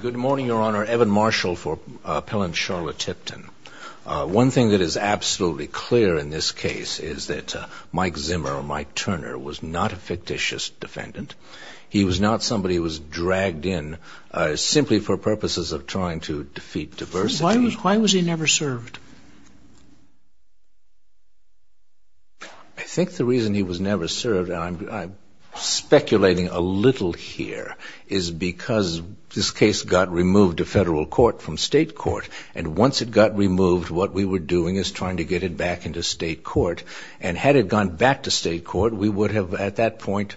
Good morning, Your Honor. Evan Marshall for appellant Sharla Tipton. One thing that is absolutely clear in this case is that Mike Zimmer, or Mike Turner, was not a fictitious defendant. He was not somebody who was dragged in simply for purposes of trying to defeat diversity. Why was he never served? I think the reason he was never served, and I'm speculating a little here, is because this case got removed to federal court from state court. And once it got removed, what we were doing is trying to get it back into state court. And had it gone back to state court, we would have, at that point,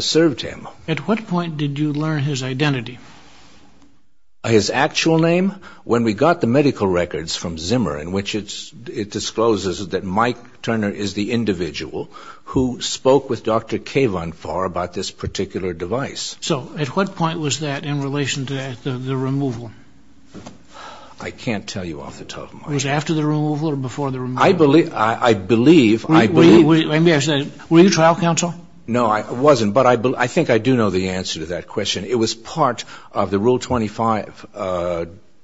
served him. At what point did you learn his identity? His actual name? When we got the medical records from Zimmer, in which it discloses that Mike Turner is the individual who spoke with Dr. Kavan for about this particular device. So, at what point was that in relation to the removal? I can't tell you off the top of my head. Was it after the removal or before the removal? I believe, I believe. Were you trial counsel? No, I wasn't. But I think I do know the answer to that question. It was part of the Rule 25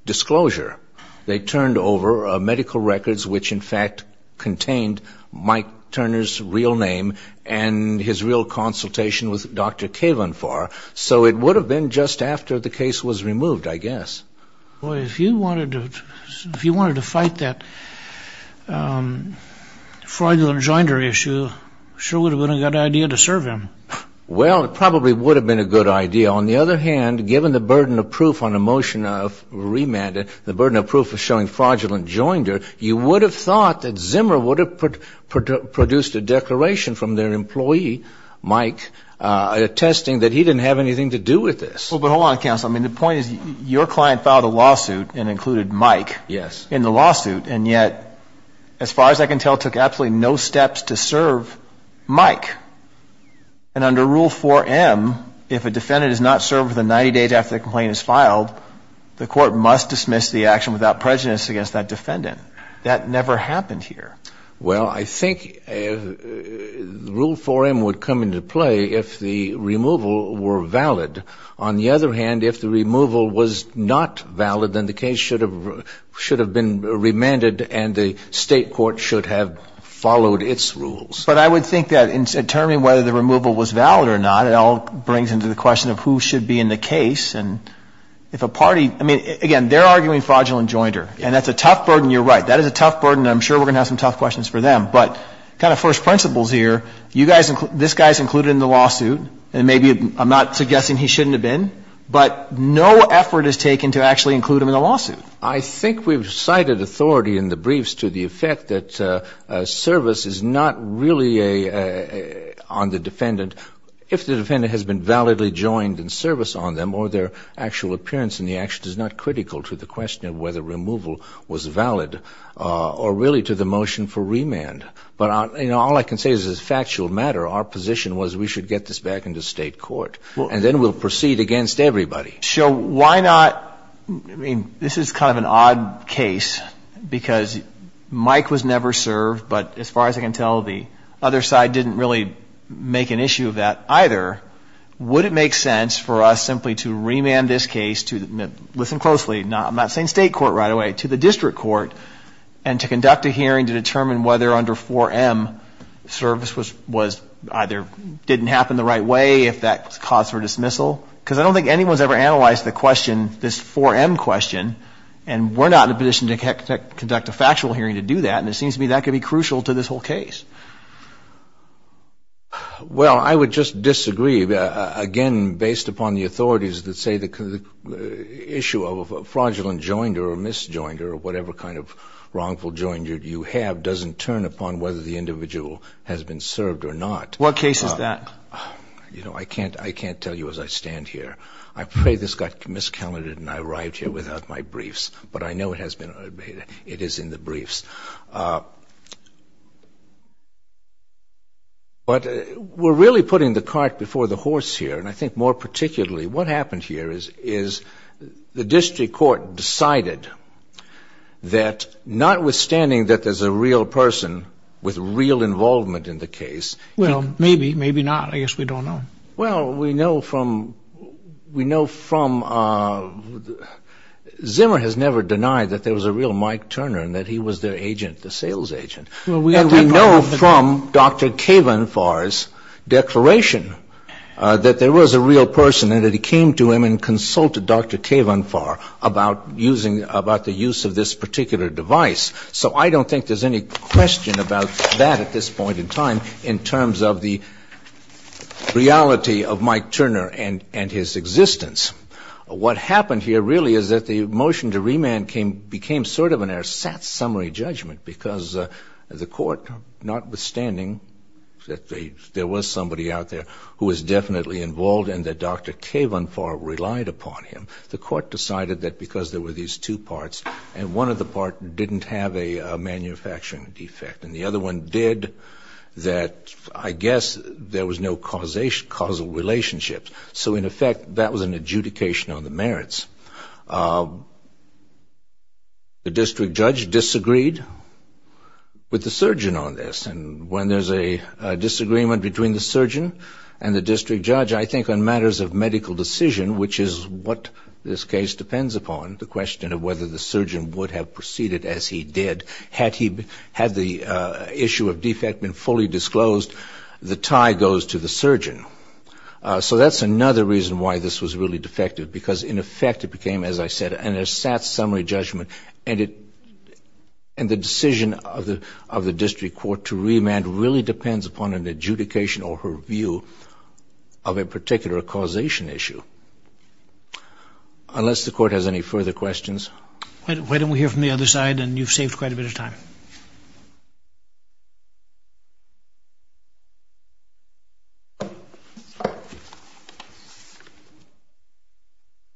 disclosure. They turned over medical records which, in fact, contained Mike Turner's real name and his real consultation with Dr. Kavan for. So, it would have been just after the case was removed, I guess. Boy, if you wanted to fight that fraudulent joinder issue, it sure would have been a good idea to serve him. Well, it probably would have been a good idea. On the other hand, given the burden of proof on a motion of remand, the burden of proof of showing fraudulent joinder, you would have thought that Zimmer would have produced a declaration from their employee, Mike, attesting that he didn't have anything to do with this. Well, but hold on, counsel. I mean, the point is your client filed a lawsuit and included Mike in the lawsuit, and yet, as far as I can tell, took absolutely no steps to serve Mike. And under Rule 4M, if a defendant is not served within 90 days after the complaint is filed, the court must dismiss the action without prejudice against that defendant. That never happened here. Well, I think Rule 4M would come into play if the removal were valid. On the other hand, if the removal was not valid, then the case should have been remanded and the State court should have followed its rules. But I would think that in determining whether the removal was valid or not, it all brings into the question of who should be in the case. And if a party – I mean, again, they're arguing fraudulent joinder, and that's a tough burden. You're right. That is a tough burden, and I'm sure we're going to have some tough questions for them. But kind of first principles here, you guys – this guy's included in the lawsuit, and maybe I'm not suggesting he shouldn't have been, but no effort is taken to actually include him in the lawsuit. I think we've cited authority in the briefs to the effect that service is not really on the defendant if the defendant has been validly joined in service on them or their actual appearance in the action is not critical to the question of whether removal was valid or really to the motion for remand. But all I can say is as a factual matter, our position was we should get this back into State court, and then we'll proceed against everybody. So why not – I mean, this is kind of an odd case because Mike was never served, but as far as I can tell, the other side didn't really make an issue of that either. Would it make sense for us simply to remand this case to – listen closely, I'm not saying State court right away – to the district court and to conduct a hearing to determine whether under 4M service was either – didn't happen the right way, if that caused for dismissal? Because I don't think anyone's ever analyzed the question, this 4M question, and we're not in a position to conduct a factual hearing to do that, and it seems to me that could be crucial to this whole case. Well, I would just disagree. Again, based upon the authorities that say the issue of a fraudulent joinder or misjoinder or whatever kind of wrongful joinder you have doesn't turn upon whether the individual has been served or not. What case is that? You know, I can't tell you as I stand here. I pray this got miscalculated and I arrived here without my briefs, but I know it has been – it is in the briefs. But we're really putting the cart before the horse here, and I think more particularly what happened here is the district court decided that notwithstanding that there's a real person with real involvement in the case – Well, maybe, maybe not. I guess we don't know. Well, we know from – we know from – Zimmer has never denied that there was a real Mike Turner and that he was their agent, the sales agent. And we know from Dr. Kavenfar's declaration that there was a real person and that he came to him and consulted Dr. Kavenfar about using – about the use of this particular device. So I don't think there's any question about that at this point in time in terms of the reality of Mike Turner and his existence. What happened here really is that the motion to remand became sort of an ersatz summary judgment because the court, notwithstanding that there was somebody out there who was definitely involved and that Dr. Kavenfar relied upon him, the court decided that because there were these two parts and one of the parts didn't have a manufacturing defect and the other one did, that I guess there was no causal relationship. So in effect, that was an adjudication on the merits. The district judge disagreed with the surgeon on this. And when there's a disagreement between the surgeon and the district judge, I think on matters of medical decision, which is what this case depends upon, the question of whether the surgeon would have proceeded as he did had he – had the issue of defect been fully disclosed, the tie goes to the surgeon. So that's another reason why this was really defective because in effect it became, as I said, an ersatz summary judgment and it – and the decision of the district court to remand really depends upon an adjudication or her view of a particular causation issue. Unless the court has any further questions. Why don't we hear from the other side? And you've saved quite a bit of time.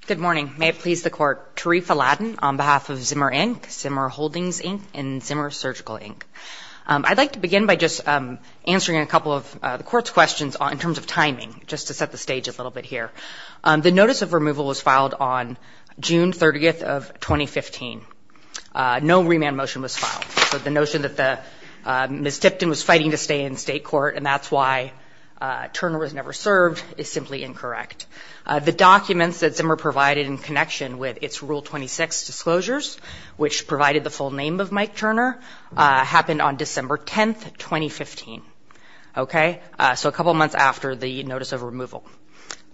Good morning. May it please the court. Tarifa Ladin on behalf of Zimmer, Inc., Zimmer Holdings, Inc., and Zimmer Surgical, Inc. I'd like to begin by just answering a couple of the court's questions in terms of timing, just to set the stage a little bit here. The notice of removal was filed on June 30th of 2015. No remand motion was filed. So the notion that the – Ms. Tipton was fighting to stay in state court and that's why Turner was never served is simply incorrect. The documents that Zimmer provided in connection with its Rule 26 disclosures, which provided the full name of Mike Turner, happened on December 10th, 2015. Okay? So a couple months after the notice of removal.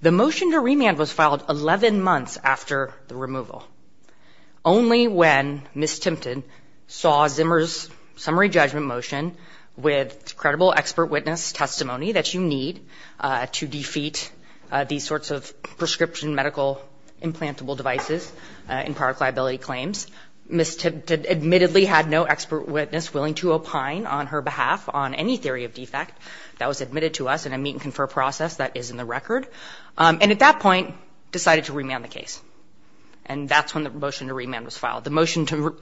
The motion to remand was filed 11 months after the removal. Only when Ms. Tipton saw Zimmer's summary judgment motion with credible expert witness testimony that you need to defeat these sorts of prescription medical implantable devices in product liability claims, Ms. Tipton admittedly had no expert witness willing to opine on her behalf on any theory of defect that was admitted to us in a meet and confer process that is in the record, and at that point decided to remand the case. And that's when the motion to remand was filed. The motion to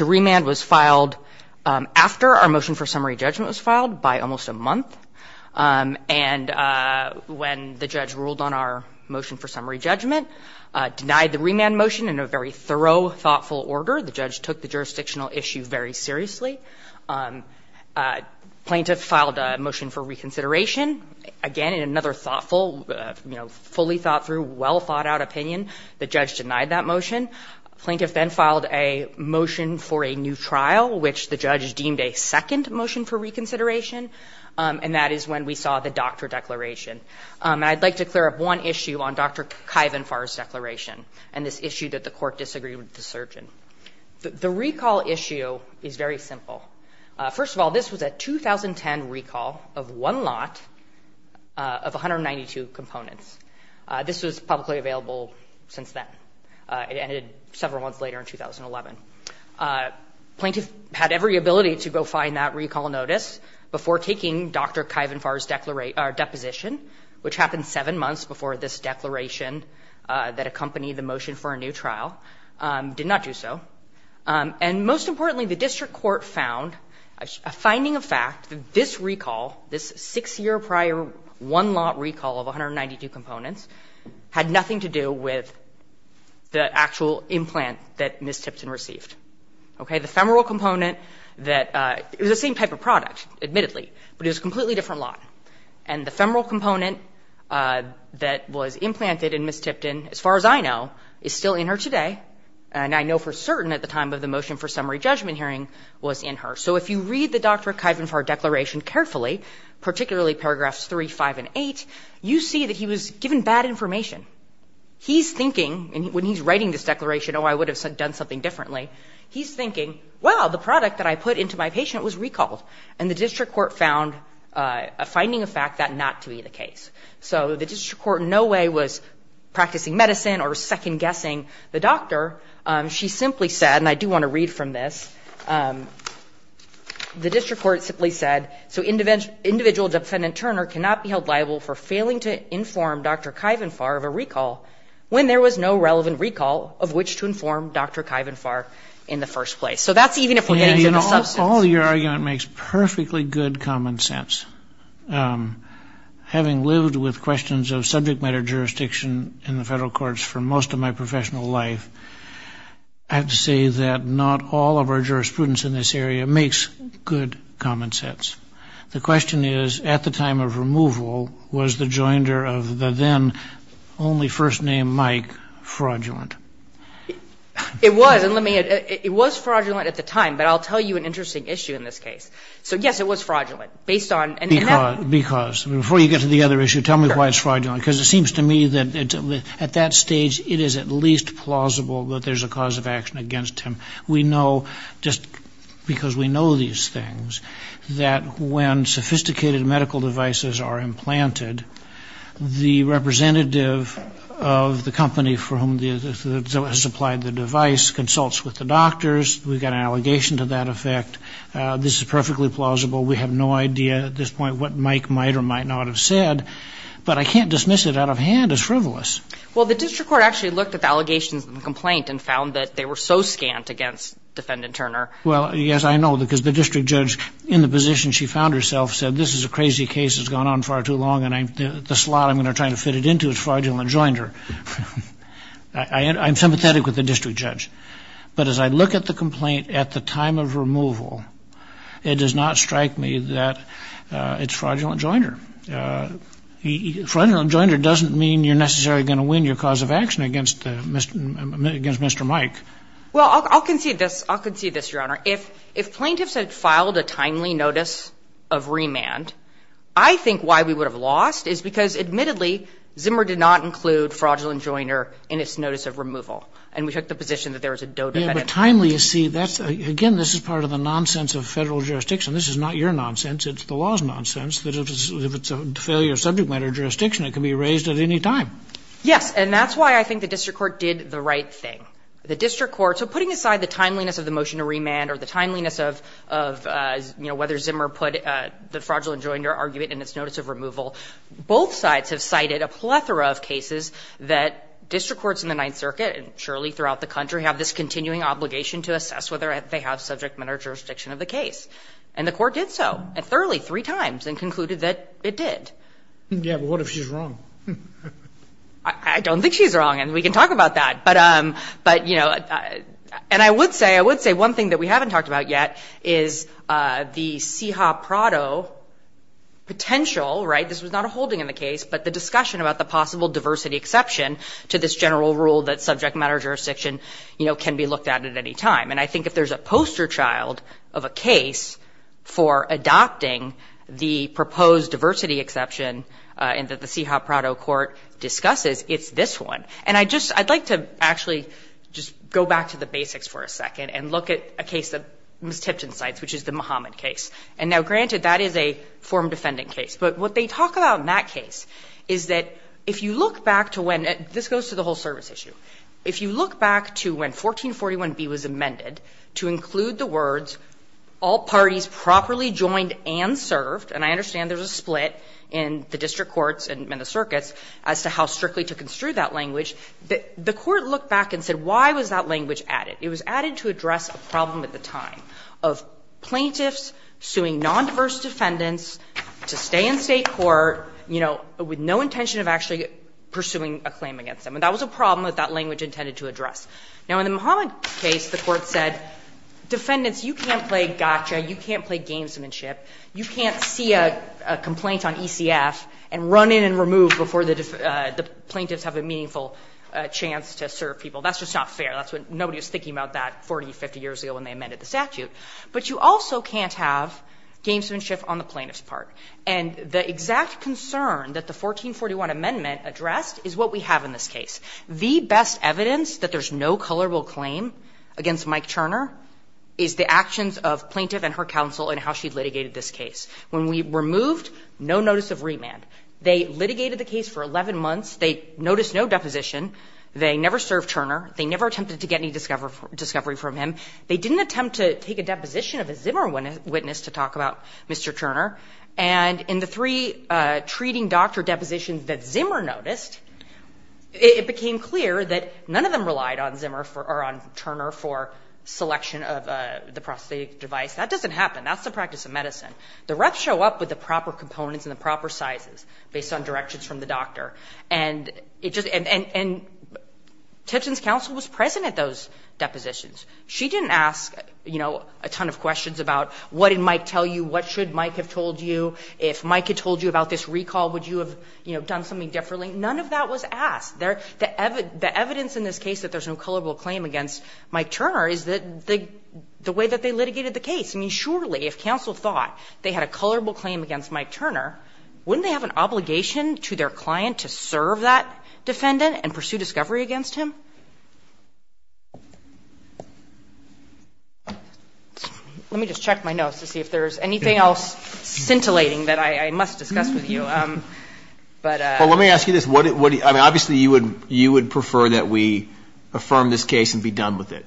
remand was filed after our motion for summary judgment was filed by almost a month. And when the judge ruled on our motion for summary judgment, denied the remand motion in a very thorough, thoughtful order. The judge took the jurisdictional issue very seriously. Plaintiff filed a motion for reconsideration. Again, in another thoughtful, you know, fully thought through, well thought out opinion, the judge denied that motion. Plaintiff then filed a motion for a new trial, which the judge deemed a second motion for reconsideration. And that is when we saw the doctor declaration. I'd like to clear up one issue on Dr. Kaivinfar's declaration and this issue that the court disagreed with the surgeon. The recall issue is very simple. First of all, this was a 2010 recall of one lot of 192 components. This was publicly available since then. It ended several months later in 2011. Plaintiff had every ability to go find that recall notice before taking Dr. Kaivinfar's deposition, which happened 7 months before this declaration that accompanied the motion for a new trial. Did not do so. And most importantly, the district court found a finding of fact that this recall, this 6-year prior one lot recall of 192 components, had nothing to do with the actual implant that Ms. Tipton received. Okay? The femoral component that was the same type of product, admittedly, but it was a completely different lot. And the femoral component that was implanted in Ms. Tipton, as far as I know, is still in her today. And I know for certain at the time of the motion for summary judgment hearing was in her. So if you read the Dr. Kaivinfar declaration carefully, particularly paragraphs 3, 5, and 8, you see that he was given bad information. He's thinking, when he's writing this declaration, oh, I would have done something differently. He's thinking, well, the product that I put into my patient was recalled. And the district court found a finding of fact that not to be the case. So the district court in no way was practicing medicine or second-guessing the doctor. She simply said, and I do want to read from this, the district court simply said, so individual defendant Turner cannot be held liable for failing to inform Dr. Kaivinfar of a recall when there was no relevant recall of which to inform Dr. Kaivinfar in the first place. So that's even if we're getting to the substance. All your argument makes perfectly good common sense. Having lived with questions of subject matter jurisdiction in the federal courts for most of my professional life, I have to say that not all of our jurisprudence in this area makes good common sense. The question is, at the time of removal, was the joinder of the then only first name Mike fraudulent? It was. And let me add, it was fraudulent at the time. But I'll tell you an interesting issue in this case. So, yes, it was fraudulent. Because. Before you get to the other issue, tell me why it's fraudulent. Because it seems to me that at that stage it is at least plausible that there's a cause of action against him. We know, just because we know these things, that when sophisticated medical devices are implanted, the representative of the company for whom the device is supplied consults with the doctors. We've got an allegation to that effect. This is perfectly plausible. We have no idea at this point what Mike might or might not have said. But I can't dismiss it out of hand as frivolous. Well, the district court actually looked at the allegations in the complaint and found that they were so scant against Defendant Turner. Well, yes, I know. Because the district judge in the position she found herself said, this is a crazy case that's gone on far too long and the slot I'm going to try to fit it into is fraudulent joinder. I'm sympathetic with the district judge. But as I look at the complaint at the time of removal, it does not strike me that it's fraudulent joinder. Fraudulent joinder doesn't mean you're necessarily going to win your cause of action against Mr. Mike. Well, I'll concede this. I'll concede this, Your Honor. If plaintiffs had filed a timely notice of remand, I think why we would have lost is because, admittedly, And we took the position that there was a dodefendant. But timely, you see, that's, again, this is part of the nonsense of Federal jurisdiction. This is not your nonsense. It's the law's nonsense, that if it's a failure of subject matter jurisdiction, it can be raised at any time. Yes. And that's why I think the district court did the right thing. The district court, so putting aside the timeliness of the motion to remand or the timeliness of, you know, whether Zimmer put the fraudulent joinder argument in its notice have this continuing obligation to assess whether they have subject matter jurisdiction of the case. And the court did so, and thoroughly, three times, and concluded that it did. Yeah, but what if she's wrong? I don't think she's wrong, and we can talk about that. But, you know, and I would say one thing that we haven't talked about yet is the CIHA Prado potential, right? This was not a holding in the case, but the discussion about the possible diversity exception to this general rule that subject matter jurisdiction, you know, can be looked at at any time. And I think if there's a poster child of a case for adopting the proposed diversity exception and that the CIHA Prado court discusses, it's this one. And I'd like to actually just go back to the basics for a second and look at a case that Ms. Tipton cites, which is the Muhammad case. And now, granted, that is a form defending case. But what they talk about in that case is that if you look back to when — this goes to the whole service issue — if you look back to when 1441b was amended to include the words, all parties properly joined and served, and I understand there was a split in the district courts and the circuits as to how strictly to construe that language, the court looked back and said, why was that language added? It was added to address a problem at the time of plaintiffs suing nondiverse defendants to stay in State court, you know, with no intention of actually pursuing a claim against them. And that was a problem that that language intended to address. Now, in the Muhammad case, the court said, defendants, you can't play gotcha, you can't play gamesmanship, you can't see a complaint on ECF and run in and remove before the plaintiffs have a meaningful chance to serve people. That's just not fair. That's what — nobody was thinking about that 40, 50 years ago when they amended the statute. But you also can't have gamesmanship on the plaintiff's part. And the exact concern that the 1441 amendment addressed is what we have in this case. The best evidence that there's no colorable claim against Mike Turner is the actions of plaintiff and her counsel in how she litigated this case. When we removed, no notice of remand. They litigated the case for 11 months. They noticed no deposition. They never served Turner. They never attempted to get any discovery from him. They didn't attempt to take a deposition of a Zimmer witness to talk about Mr. Turner. And in the three treating doctor depositions that Zimmer noticed, it became clear that none of them relied on Zimmer or on Turner for selection of the prosthetic device. That doesn't happen. That's the practice of medicine. The reps show up with the proper components and the proper sizes based on directions from the doctor. And it just — and Tipton's counsel was present at those depositions. She didn't ask, you know, a ton of questions about what did Mike tell you? What should Mike have told you? If Mike had told you about this recall, would you have, you know, done something differently? None of that was asked. The evidence in this case that there's no colorable claim against Mike Turner is the way that they litigated the case. I mean, surely if counsel thought they had a colorable claim against Mike Turner, wouldn't they have an obligation to their client to serve that defendant and pursue discovery against him? Let me just check my notes to see if there's anything else scintillating that I must discuss with you. But — Well, let me ask you this. What — I mean, obviously you would prefer that we affirm this case and be done with it.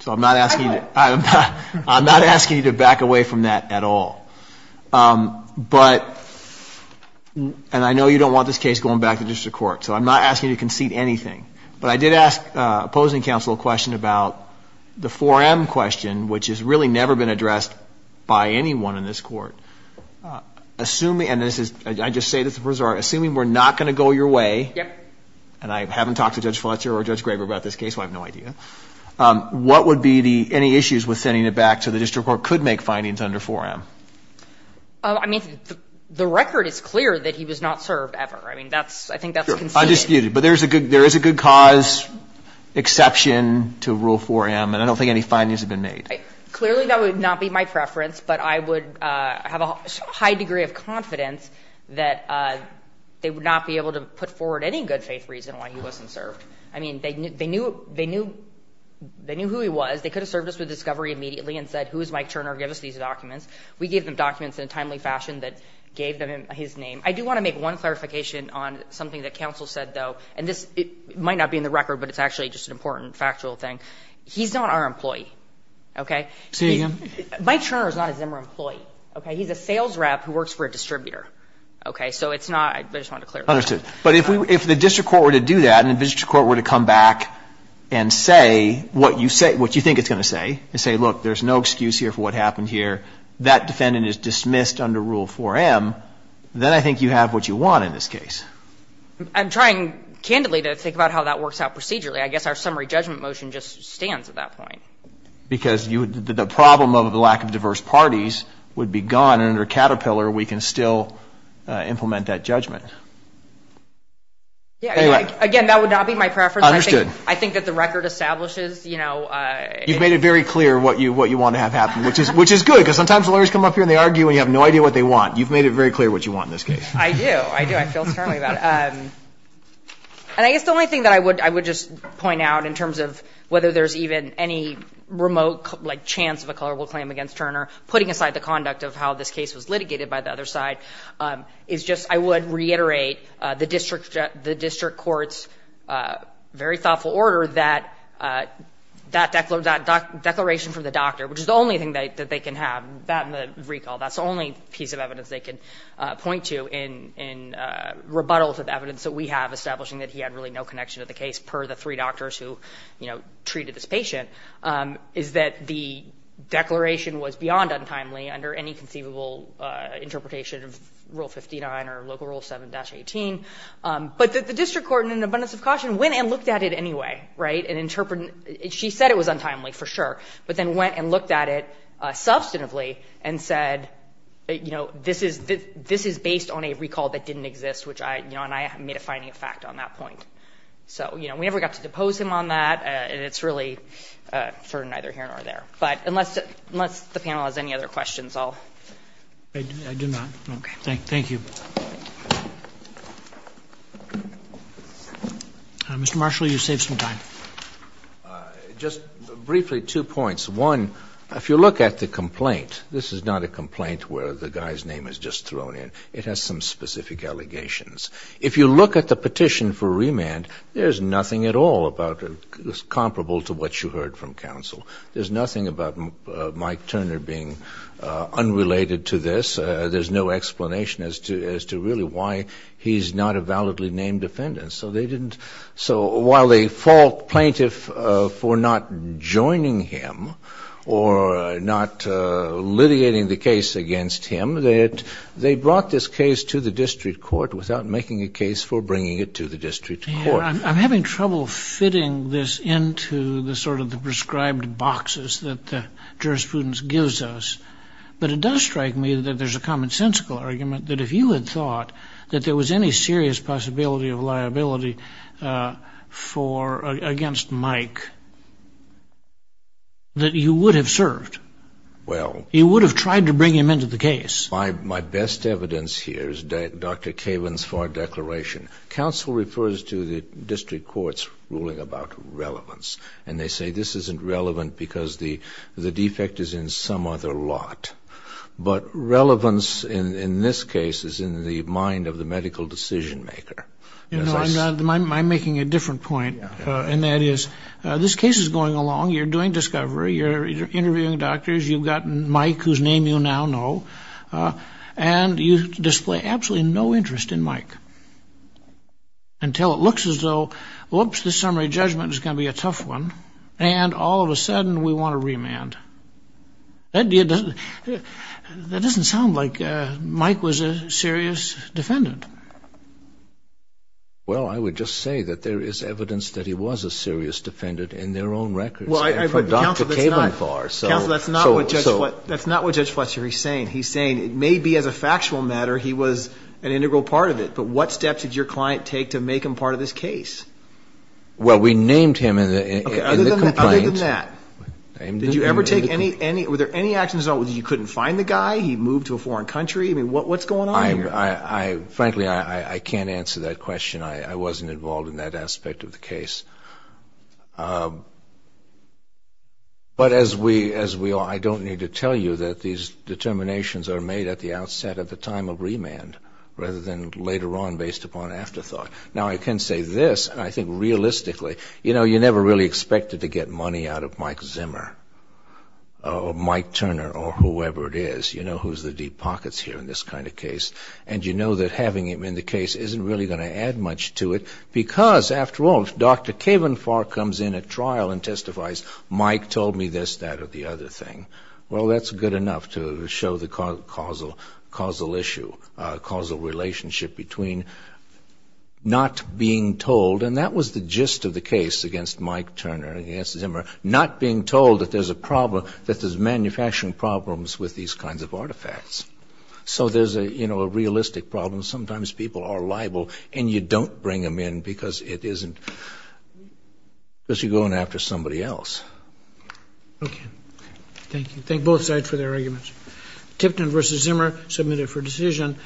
So I'm not asking — I would. I'm not asking you to back away from that at all. But — and I know you don't want this case going back to district court. So I'm not asking you to concede anything. But I did ask opposing counsel a question about the 4M question, which has really never been addressed by anyone in this Court. Assuming — and this is — I just say this as a resort. Assuming we're not going to go your way — Yep. And I haven't talked to Judge Fletcher or Judge Graber about this case, so I have no idea. What would be the — any issues with sending it back to the district court could make findings under 4M? I mean, the record is clear that he was not served ever. I mean, that's — I think that's conceded. Undisputed. But there's a good — there is a good cause exception to Rule 4M. And I don't think any findings have been made. Clearly, that would not be my preference. But I would have a high degree of confidence that they would not be able to put forward any good-faith reason why he wasn't served. I mean, they knew — they knew — they knew who he was. They could have served us with discovery immediately and said, who is Mike Turner? Give us these documents. We gave them documents in a timely fashion that gave them his name. I do want to make one clarification on something that counsel said, though. And this might not be in the record, but it's actually just an important factual thing. He's not our employee. Okay? Mike Turner is not a Zimmer employee. Okay? He's a sales rep who works for a distributor. Okay? So it's not — I just wanted to clarify that. But if the district court were to do that and the district court were to come back and say what you say — what you think it's going to say, and say, look, there's no excuse here for what happened here, that defendant is dismissed under Rule 4M, then I think you have what you want in this case. I'm trying, candidly, to think about how that works out procedurally. I guess our summary judgment motion just stands at that point. Because you — the problem of the lack of diverse parties would be gone, and under Caterpillar, we can still implement that judgment. Yeah. Anyway — Again, that would not be my preference. Understood. I think that the record establishes, you know — You've made it very clear what you — what you want to have happen, which is good, because sometimes lawyers come up here and they argue and you have no idea what they want. You've made it very clear what you want in this case. I do. I do. I feel strongly about it. And I guess the only thing that I would — I would just point out in terms of whether there's even any remote, like, chance of a culpable claim against Turner, putting aside the conduct of how this case was litigated by the other side, is just I would reiterate the district — the district court's very thoughtful order that that declaration from the doctor, which is the only thing that they can have, that and the recall. That's the only piece of evidence they can point to in — in rebuttals of evidence that we have establishing that he had really no connection to the case, per the three doctors who, you know, treated this patient, is that the declaration was beyond untimely under any conceivable interpretation of Rule 59 or Local Rule 7-18. But the district court, in an abundance of caution, went and looked at it anyway, right, and interpreted — she said it was untimely, for sure, but then went and said, you know, this is — this is based on a recall that didn't exist, which I — you know, and I made a finding of fact on that point. So, you know, we never got to depose him on that. It's really for neither here nor there. But unless — unless the panel has any other questions, I'll — Roberts. I do not. Okay. Thank you. Mr. Marshall, you saved some time. Just briefly, two points. One, if you look at the complaint, this is not a complaint where the guy's name is just thrown in. It has some specific allegations. If you look at the petition for remand, there's nothing at all about — comparable to what you heard from counsel. There's nothing about Mike Turner being unrelated to this. There's no explanation as to — as to really why he's not a validly named defendant. And so they didn't — so while they fault plaintiff for not joining him or not litigating the case against him, they had — they brought this case to the district court without making a case for bringing it to the district court. I'm having trouble fitting this into the sort of the prescribed boxes that the jurisprudence gives us. But it does strike me that there's a commonsensical argument that if you had thought that there was any serious possibility of liability for — against Mike, that you would have served. Well — You would have tried to bring him into the case. My best evidence here is Dr. Kaven's FAR declaration. Counsel refers to the district court's ruling about relevance. And they say this isn't relevant because the defect is in some other lot. But relevance in this case is in the mind of the medical decision maker. You know, I'm making a different point. And that is, this case is going along. You're doing discovery. You're interviewing doctors. You've gotten Mike, whose name you now know. And you display absolutely no interest in Mike until it looks as though, whoops, this summary judgment is going to be a tough one. And all of a sudden, we want a remand. That doesn't sound like Mike was a serious defendant. Well, I would just say that there is evidence that he was a serious defendant in their own records. And from Dr. Kaven's FAR. Counsel, that's not what Judge Fletcher is saying. He's saying it may be as a factual matter he was an integral part of it. But what steps did your client take to make him part of this case? Well, we named him in the complaint. Did you ever take any – were there any actions at all? You couldn't find the guy? He moved to a foreign country? I mean, what's going on here? Frankly, I can't answer that question. I wasn't involved in that aspect of the case. But as we are, I don't need to tell you that these determinations are made at the outset, at the time of remand, rather than later on based upon afterthought. Now, I can say this, and I think realistically, you know, I really expected to get money out of Mike Zimmer or Mike Turner or whoever it is, you know, who's the deep pockets here in this kind of case. And you know that having him in the case isn't really going to add much to it because, after all, if Dr. Kaven FAR comes in at trial and testifies, Mike told me this, that, or the other thing, well, that's good enough to show the causal issue, causal relationship between not being told. And that was the gist of the case against Mike Turner and against Zimmer, not being told that there's a problem, that there's manufacturing problems with these kinds of artifacts. So there's a, you know, a realistic problem. Sometimes people are liable and you don't bring them in because it isn't, because you're going after somebody else. Okay. Thank you. Thank both sides for their arguments. Tipton v. Zimmer, submitted for decision.